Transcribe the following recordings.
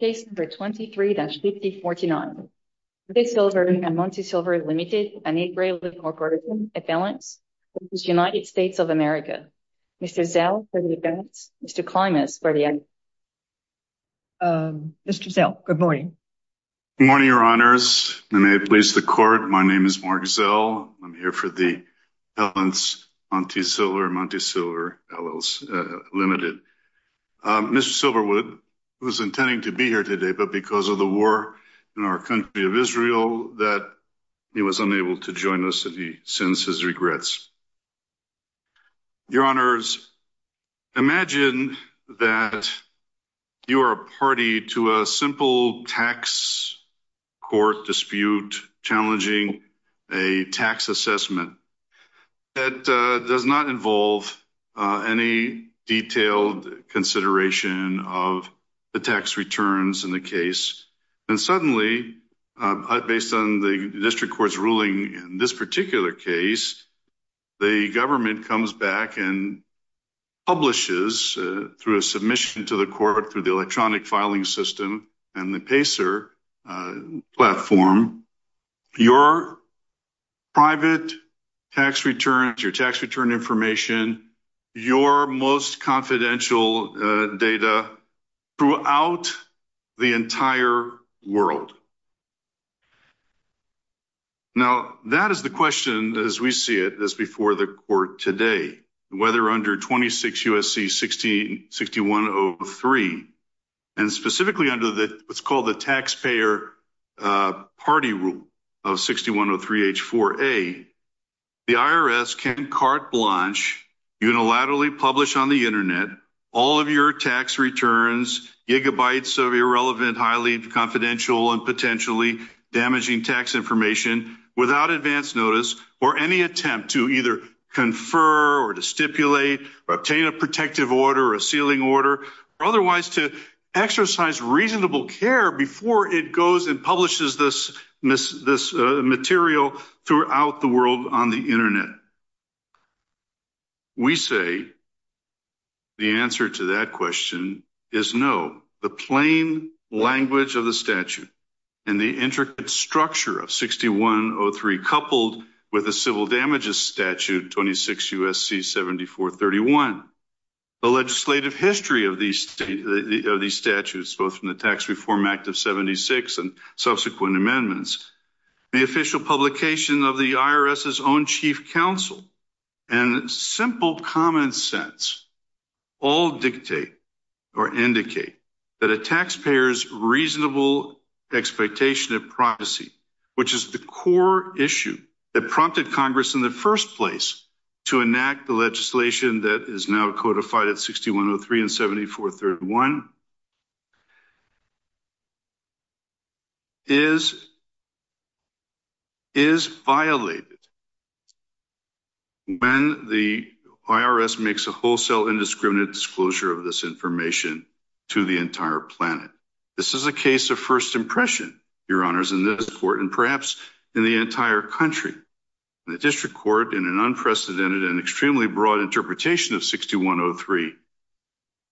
Case number 23-5049. Montesilver and Montesilver Limited, an 8-gray-leaf corporation, at Valence, which is United States of America. Mr. Zell, for the defense. Mr. Klimas, for the evidence. Mr. Zell, good morning. Good morning, Your Honors. May it please the Court, my name is Mark Zell. I'm here for the Valence Montesilver and Montesilver Limited. Mr. Silverwood, who is intending to be here today, but because of the war in our country of Israel, that he was unable to join us, and he sends his regrets. Your Honors, imagine that you are a party to a simple tax court dispute challenging a tax assessment that does not involve any detailed consideration of the tax returns in the case. And suddenly, based on the district court's ruling in this particular case, the government comes back and publishes, through a submission to the court through the electronic filing system and the PACER platform, your private tax returns, your tax return information, your most confidential data throughout the entire world. Now, that is the question, as we see it, as before the court today, whether under 26 U.S.C. 6103, and specifically under what's called the Taxpayer Party Rule of 6103H4A, the IRS can carte blanche, unilaterally publish on the Internet, all of your tax returns, gigabytes of irrelevant, highly confidential, and potentially damaging tax information, without advance notice, or any attempt to either confer or to stipulate, or obtain a protective order or a sealing order, or otherwise to exercise reasonable care before it goes and publishes this material throughout the world on the Internet. We say the answer to that question is no. The plain language of the statute and the intricate structure of 6103, coupled with the civil damages statute, 26 U.S.C. 7431, the legislative history of these statutes, both from the Tax Reform Act of 76 and subsequent amendments, the official publication of the IRS's own chief counsel, and simple common sense, all dictate or indicate that a taxpayer's reasonable expectation of privacy, which is the core issue that prompted Congress in the first place to enact the legislation that is now codified at 6103 and 7431, is violated when the IRS makes a wholesale indiscriminate disclosure of this information to the entire planet. This is a case of first impression, Your Honors, in this court, and perhaps in the entire country. The district court, in an unprecedented and extremely broad interpretation of 6103,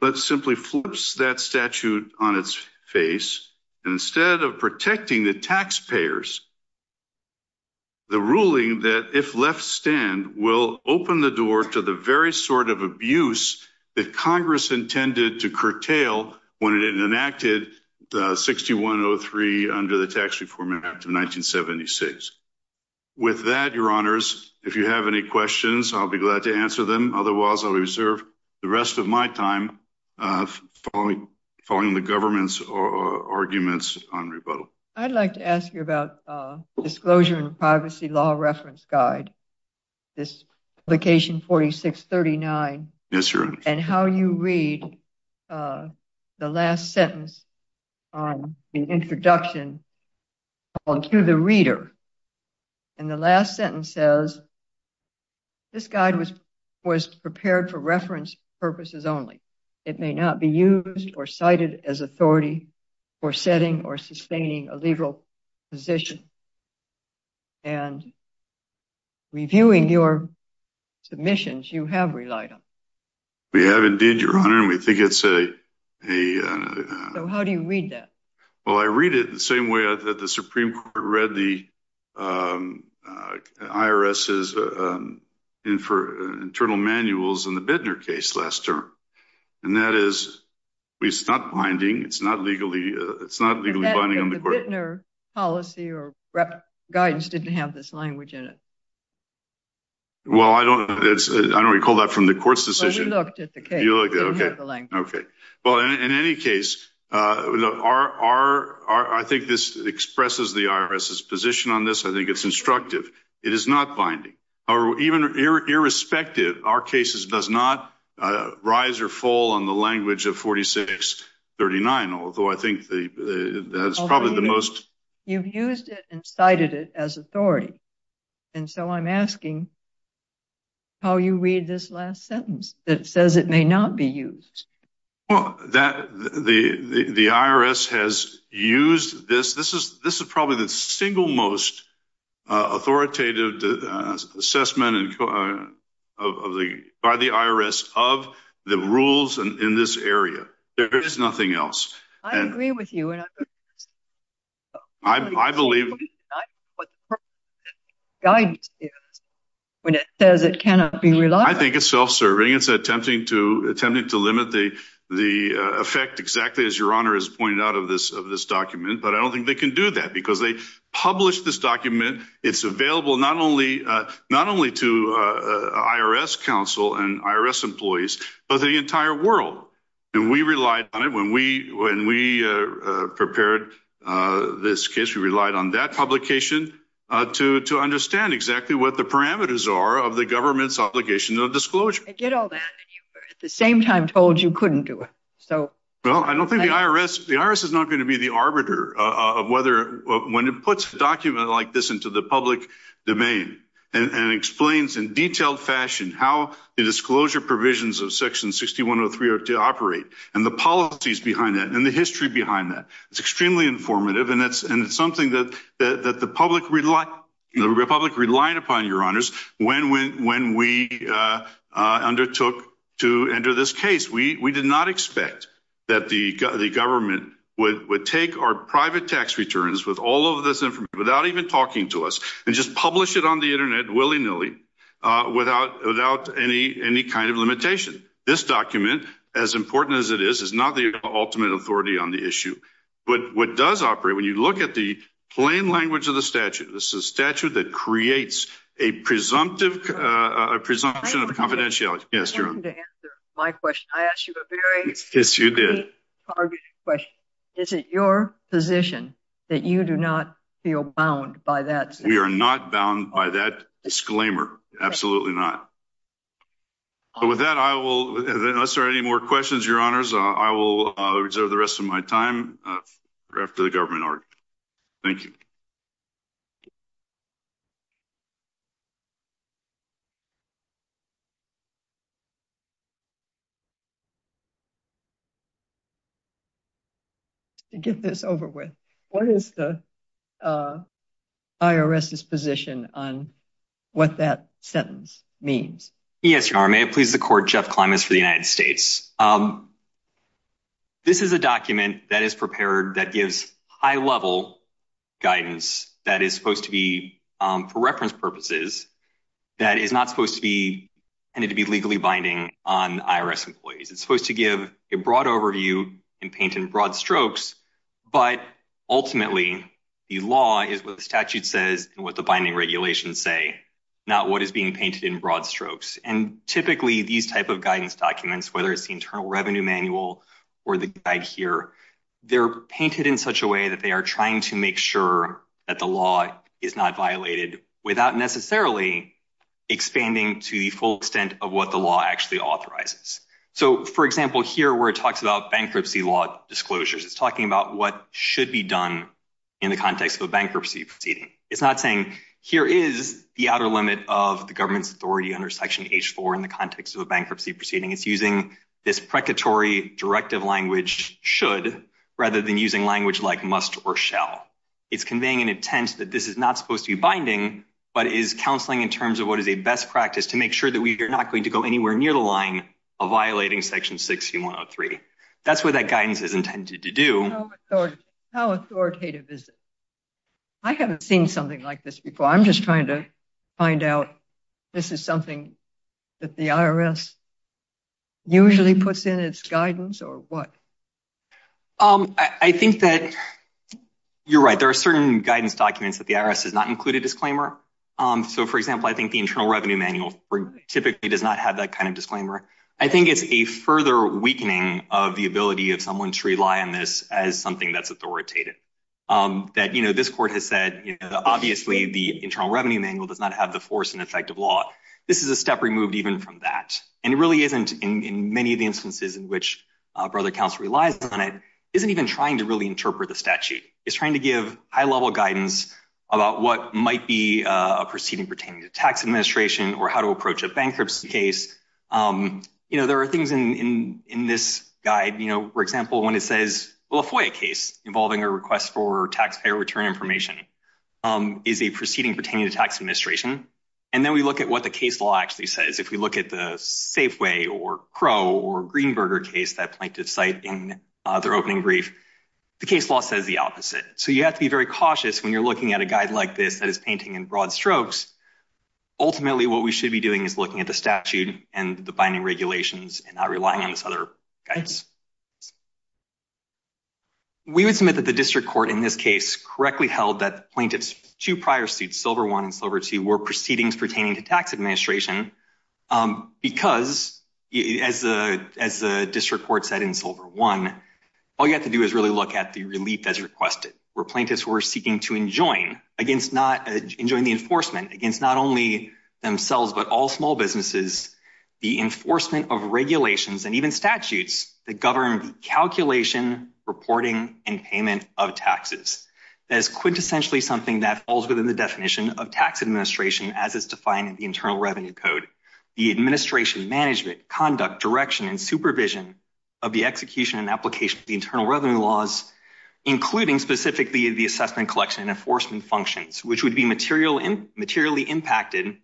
but simply flips that statute on its face, and instead of protecting the taxpayers, the ruling that if left stand will open the door to the very sort of abuse that Congress intended to curtail when it enacted 6103 under the Tax Reform Act of 1976. With that, Your Honors, if you have any questions, I'll be glad to answer them. Otherwise, I'll reserve the rest of my time following the government's arguments on rebuttal. I'd like to ask you about the Disclosure and Privacy Law Reference Guide, this Publication 4639, and how you read the last sentence on the introduction to the reader. And the last sentence says, This guide was prepared for reference purposes only. It may not be used or cited as authority for setting or sustaining a liberal position. And reviewing your submissions, you have relied on it. We have indeed, Your Honor, and we think it's a… So how do you read that? Well, I read it the same way that the Supreme Court read the IRS's internal manuals in the Bittner case last term. And that is, it's not binding, it's not legally binding on the court. The Bittner policy or guidance didn't have this language in it. Well, I don't recall that from the court's decision. Well, you looked at the case. Okay. Well, in any case, I think this expresses the IRS's position on this. I think it's instructive. It is not binding. Or even irrespective, our case does not rise or fall on the language of 4639, although I think that's probably the most… You've used it and cited it as authority. And so I'm asking how you read this last sentence that says it may not be used. Well, the IRS has used this. This is probably the single most authoritative assessment by the IRS of the rules in this area. There is nothing else. I agree with you. I believe… …guidance is when it says it cannot be relied on. I think it's self-serving. It's attempting to limit the effect exactly as Your Honor has pointed out of this document. But I don't think they can do that because they published this document. It's available not only to IRS counsel and IRS employees, but the entire world. And we relied on it when we prepared this case. We relied on that publication to understand exactly what the parameters are of the government's obligation of disclosure. I get all that, and you were at the same time told you couldn't do it. Well, I don't think the IRS… The IRS is not going to be the arbiter of whether when it puts a document like this into the public domain and explains in detailed fashion how the disclosure provisions of Section 6103 are to operate and the policies behind that and the history behind that. It's extremely informative, and it's something that the public relied upon, Your Honors, when we undertook to enter this case. We did not expect that the government would take our private tax returns with all of this information, without even talking to us, and just publish it on the Internet willy-nilly without any kind of limitation. This document, as important as it is, is not the ultimate authority on the issue. But what does operate, when you look at the plain language of the statute, this is a statute that creates a presumption of confidentiality. I asked you a very targeted question. Is it your position that you do not feel bound by that? We are not bound by that disclaimer. Absolutely not. With that, unless there are any more questions, Your Honors, I will reserve the rest of my time for after the government argument. Thank you. To get this over with, what is the IRS's position on what that sentence means? Yes, Your Honor, may it please the Court, Jeff Klimas for the United States. This is a document that is prepared that gives high-level guidance that is supposed to be, for reference purposes, that is not supposed to be legally binding on IRS employees. It's supposed to give a broad overview and paint in broad strokes, but ultimately the law is what the statute says and what the binding regulations say, not what is being painted in broad strokes. And typically, these type of guidance documents, whether it's the Internal Revenue Manual or the guide here, they're painted in such a way that they are trying to make sure that the law is not violated without necessarily expanding to the full extent of what the law actually authorizes. So, for example, here where it talks about bankruptcy law disclosures, it's talking about what should be done in the context of a bankruptcy proceeding. It's not saying here is the outer limit of the government's authority under Section H-4 in the context of a bankruptcy proceeding. It's using this precatory directive language, should, rather than using language like must or shall. It's conveying an intent that this is not supposed to be binding, but is counseling in terms of what is a best practice to make sure that we are not going to go anywhere near the line of violating Section 6103. That's what that guidance is intended to do. How authoritative is it? I haven't seen something like this before. I'm just trying to find out this is something that the IRS usually puts in its guidance or what. I think that you're right. There are certain guidance documents that the IRS does not include a disclaimer. So, for example, I think the Internal Revenue Manual typically does not have that kind of disclaimer. I think it's a further weakening of the ability of someone to rely on this as something that's authoritative. That, you know, this court has said, you know, obviously the Internal Revenue Manual does not have the force and effect of law. This is a step removed even from that. And it really isn't, in many of the instances in which Brother Counsel relies on it, isn't even trying to really interpret the statute. It's trying to give high-level guidance about what might be a proceeding pertaining to tax administration or how to approach a bankruptcy case. You know, there are things in this guide, you know, for example, when it says, well, a FOIA case involving a request for taxpayer return information is a proceeding pertaining to tax administration. And then we look at what the case law actually says. If we look at the Safeway or Crow or Greenberger case that plaintiffs cite in their opening brief, the case law says the opposite. So you have to be very cautious when you're looking at a guide like this that is painting in broad strokes. Ultimately, what we should be doing is looking at the statute and the binding regulations and not relying on this other guidance. We would submit that the district court in this case correctly held that the plaintiffs' two prior suits, Silver I and Silver II, were proceedings pertaining to tax administration because, as the district court said in Silver I, all you have to do is really look at the relief as requested, where plaintiffs were seeking to enjoin, enjoin the enforcement against not only themselves but all small businesses, the enforcement of regulations and even statutes that govern the calculation, reporting, and payment of taxes. That is quintessentially something that falls within the definition of tax administration, as is defined in the Internal Revenue Code, the administration, management, conduct, direction, and supervision of the execution and application of the internal revenue laws, including specifically the assessment collection and enforcement functions, which would be materially impacted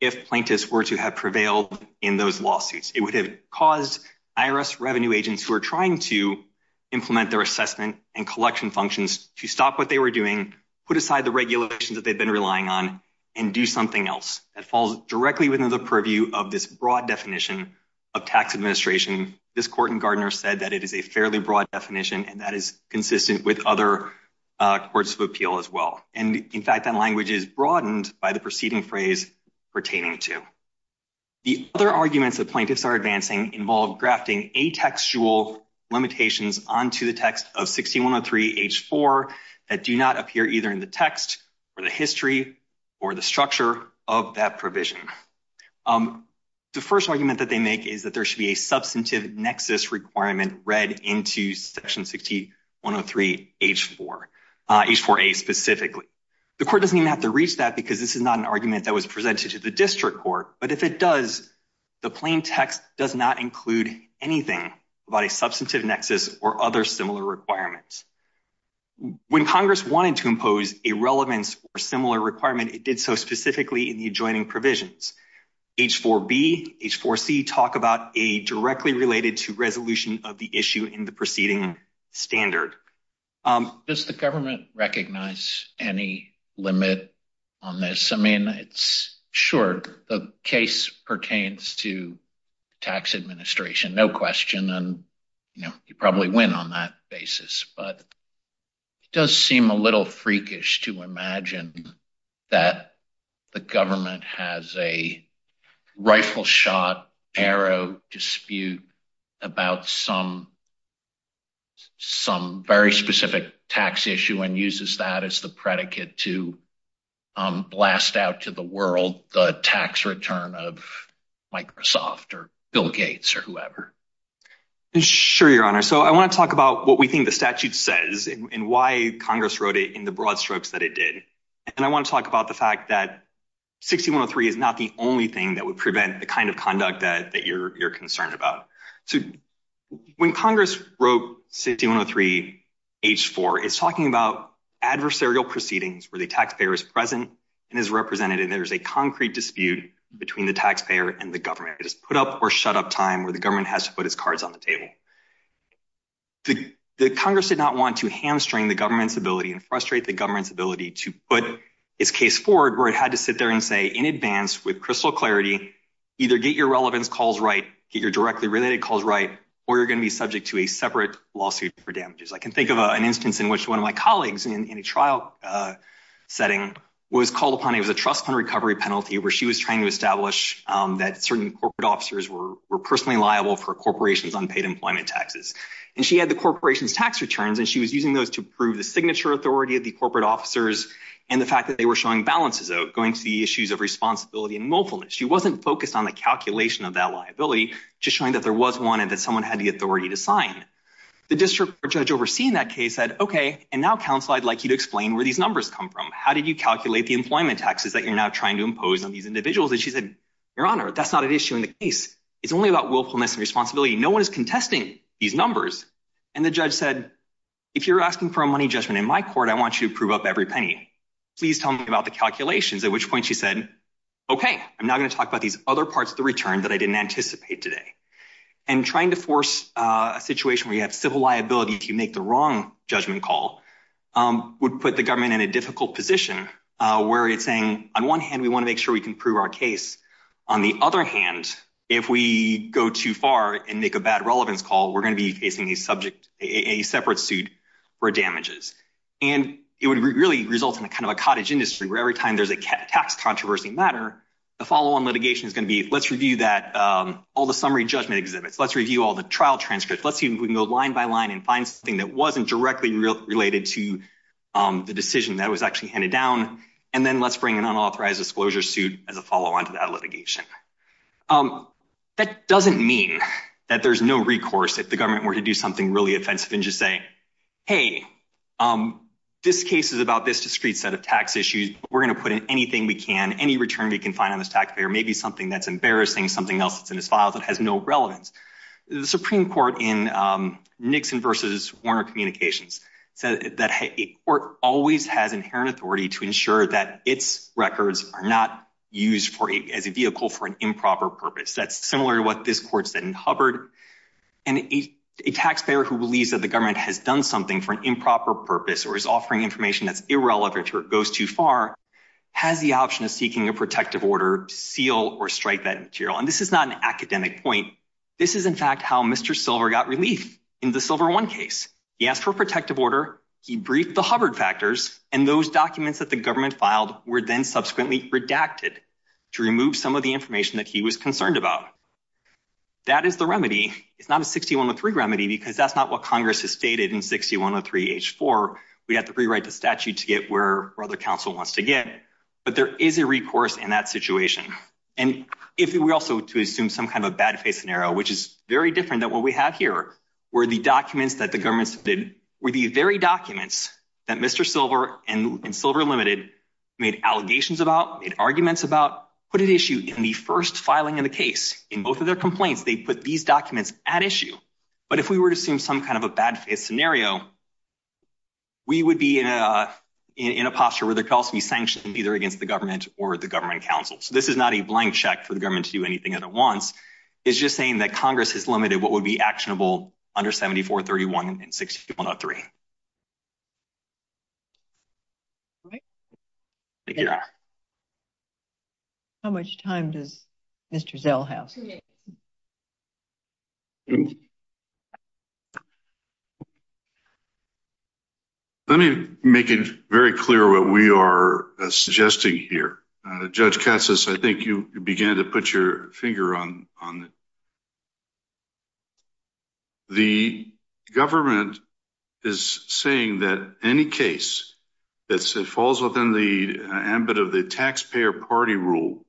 if plaintiffs were to have prevailed in those lawsuits. It would have caused IRS revenue agents who are trying to implement their assessment and collection functions to stop what they were doing, put aside the regulations that they've been relying on, and do something else. That falls directly within the purview of this broad definition of tax administration. This court in Gardner said that it is a fairly broad definition, and that is consistent with other courts of appeal as well. And, in fact, that language is broadened by the preceding phrase pertaining to. The other arguments that plaintiffs are advancing involve grafting atextual limitations onto the text of 16-103-H4 that do not appear either in the text or the history or the structure of that provision. The first argument that they make is that there should be a substantive nexus requirement read into Section 16-103-H4, H4A specifically. The court doesn't even have to reach that because this is not an argument that was presented to the district court. But if it does, the plain text does not include anything about a substantive nexus or other similar requirements. When Congress wanted to impose a relevance or similar requirement, it did so specifically in the adjoining provisions. H4B, H4C talk about a directly related to resolution of the issue in the preceding standard. Does the government recognize any limit on this? I mean, sure, the case pertains to tax administration, no question, and you probably win on that basis. But it does seem a little freakish to imagine that the government has a rifle shot, arrow dispute about some very specific tax issue and uses that as the predicate to blast out to the world the tax return of Microsoft or Bill Gates or whoever. Sure, Your Honor. So I want to talk about what we think the statute says and why Congress wrote it in the broad strokes that it did. And I want to talk about the fact that 16-103 is not the only thing that would prevent the kind of conduct that you're concerned about. So when Congress wrote 16-103-H4, it's talking about adversarial proceedings where the taxpayer is present and is represented. And there's a concrete dispute between the taxpayer and the government. It is put up or shut up time where the government has to put its cards on the table. The Congress did not want to hamstring the government's ability and frustrate the government's ability to put its case forward, where it had to sit there and say in advance with crystal clarity, either get your relevance calls right, get your directly related calls right, or you're going to be subject to a separate lawsuit for damages. I can think of an instance in which one of my colleagues in a trial setting was called upon. It was a trust fund recovery penalty where she was trying to establish that certain corporate officers were personally liable for a corporation's unpaid employment taxes. And she had the corporation's tax returns, and she was using those to prove the signature authority of the corporate officers and the fact that they were showing balances going to the issues of responsibility and willfulness. She wasn't focused on the calculation of that liability, just showing that there was one and that someone had the authority to sign. The district judge overseeing that case said, OK, and now, counsel, I'd like you to explain where these numbers come from. How did you calculate the employment taxes that you're now trying to impose on these individuals? And she said, Your Honor, that's not an issue in the case. It's only about willfulness and responsibility. No one is contesting these numbers. And the judge said, if you're asking for a money judgment in my court, I want you to prove up every penny. Please tell me about the calculations, at which point she said, OK, I'm not going to talk about these other parts of the return that I didn't anticipate today. And trying to force a situation where you have civil liability to make the wrong judgment call would put the government in a difficult position, where it's saying, on one hand, we want to make sure we can prove our case. On the other hand, if we go too far and make a bad relevance call, we're going to be facing a subject, a separate suit for damages. And it would really result in a kind of a cottage industry where every time there's a tax controversy matter, the follow on litigation is going to be let's review that all the summary judgment exhibits. Let's review all the trial transcripts. Let's see if we can go line by line and find something that wasn't directly related to the decision that was actually handed down. And then let's bring an unauthorized disclosure suit as a follow on to that litigation. That doesn't mean that there's no recourse if the government were to do something really offensive and just say, hey, this case is about this discrete set of tax issues. We're going to put in anything we can. Any return we can find on this taxpayer may be something that's embarrassing, something else that's in his file that has no relevance. The Supreme Court in Nixon versus Warner Communications said that it always has inherent authority to ensure that its records are not used as a vehicle for an improper purpose. That's similar to what this court said in Hubbard. And a taxpayer who believes that the government has done something for an improper purpose or is offering information that's irrelevant or goes too far has the option of seeking a protective order seal or strike that material. And this is not an academic point. This is, in fact, how Mr. Silver got relief in the Silver One case. He asked for a protective order. He briefed the Hubbard factors. And those documents that the government filed were then subsequently redacted to remove some of the information that he was concerned about. That is the remedy. It's not a 6103 remedy because that's not what Congress has stated in 6103 H4. We have to rewrite the statute to get where other counsel wants to get. But there is a recourse in that situation. And if we were also to assume some kind of a bad case scenario, which is very different than what we have here, where the documents that the government did were the very documents that Mr. Silver and Silver Limited made allegations about, made arguments about, put at issue in the first filing of the case. In both of their complaints, they put these documents at issue. But if we were to assume some kind of a bad case scenario, we would be in a posture where there could also be sanctions either against the government or the government counsel. So this is not a blank check for the government to do anything that it wants. It's just saying that Congress has limited what would be actionable under 7431 and 6103. How much time does Mr. Zell have? Let me make it very clear what we are suggesting here. Judge Katsas, I think you began to put your finger on it. The government is saying that any case that falls within the ambit of the taxpayer party rule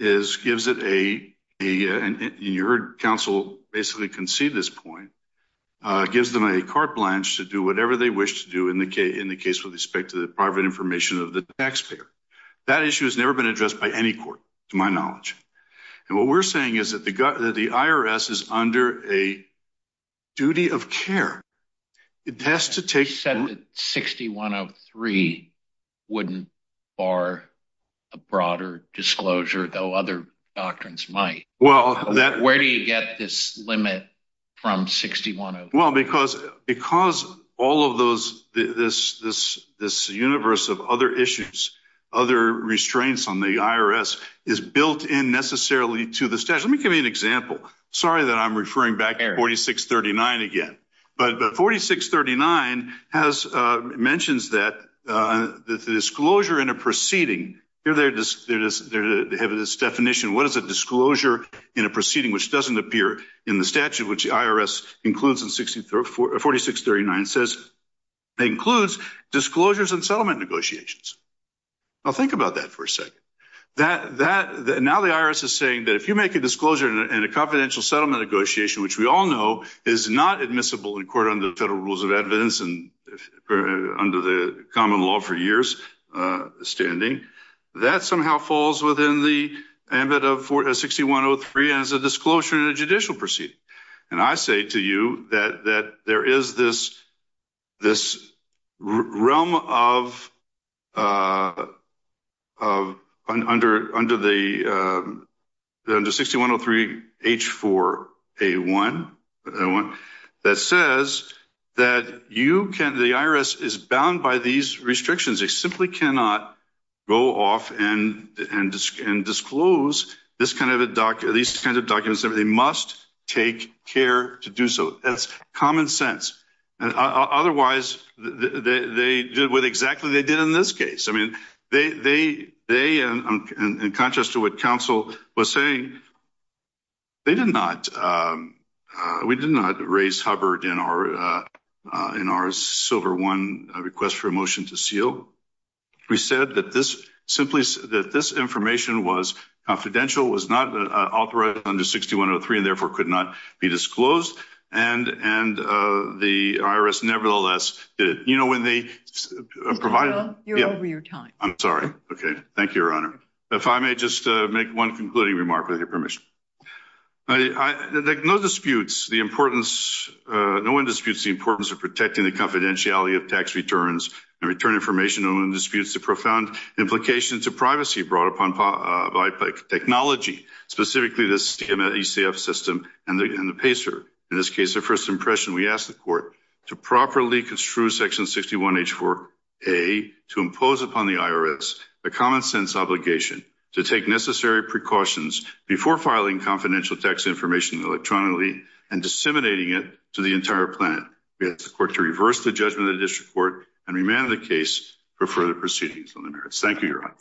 gives it a, you heard counsel basically concede this point, gives them a carte blanche to do whatever they wish to do in the case with respect to the private information of the taxpayer. That issue has never been addressed by any court, to my knowledge. And what we're saying is that the IRS is under a duty of care. It has to take... You said that 6103 wouldn't bar a broader disclosure, though other doctrines might. Well, that... Where do you get this limit from 6103? Well, because all of this universe of other issues, other restraints on the IRS is built in necessarily to the statute. Let me give you an example. Sorry that I'm referring back to 4639 again. But 4639 mentions that the disclosure in a proceeding... They have this definition. What is a disclosure in a proceeding which doesn't appear in the statute, which the IRS includes in 4639? It says it includes disclosures in settlement negotiations. Now, think about that for a second. Now the IRS is saying that if you make a disclosure in a confidential settlement negotiation, which we all know is not admissible in court under the federal rules of evidence and under the common law for years standing, that somehow falls within the ambit of 6103 as a disclosure in a judicial proceeding. And I say to you that there is this realm under 6103 H4A1 that says that the IRS is bound by these restrictions. They simply cannot go off and disclose these kinds of documents. They must take care to do so. That's common sense. Otherwise, they did what exactly they did in this case. In contrast to what counsel was saying, we did not raise Hubbard in our Silver I request for a motion to seal. We said that this information was confidential, was not authorized under 6103, and therefore could not be disclosed. And the IRS nevertheless did it. You're over your time. I'm sorry. Thank you, Your Honor. If I may just make one concluding remark, with your permission. No one disputes the importance of protecting the confidentiality of tax returns and return information. No one disputes the profound implications of privacy brought upon by technology, specifically the ECF system and the PACER. In this case, the first impression we ask the court to properly construe Section 61H4A to impose upon the IRS the common sense obligation to take necessary precautions before filing confidential tax information electronically and disseminating it to the entire planet. We ask the court to reverse the judgment of the district court and remand the case for further proceedings on the merits. Thank you, Your Honor.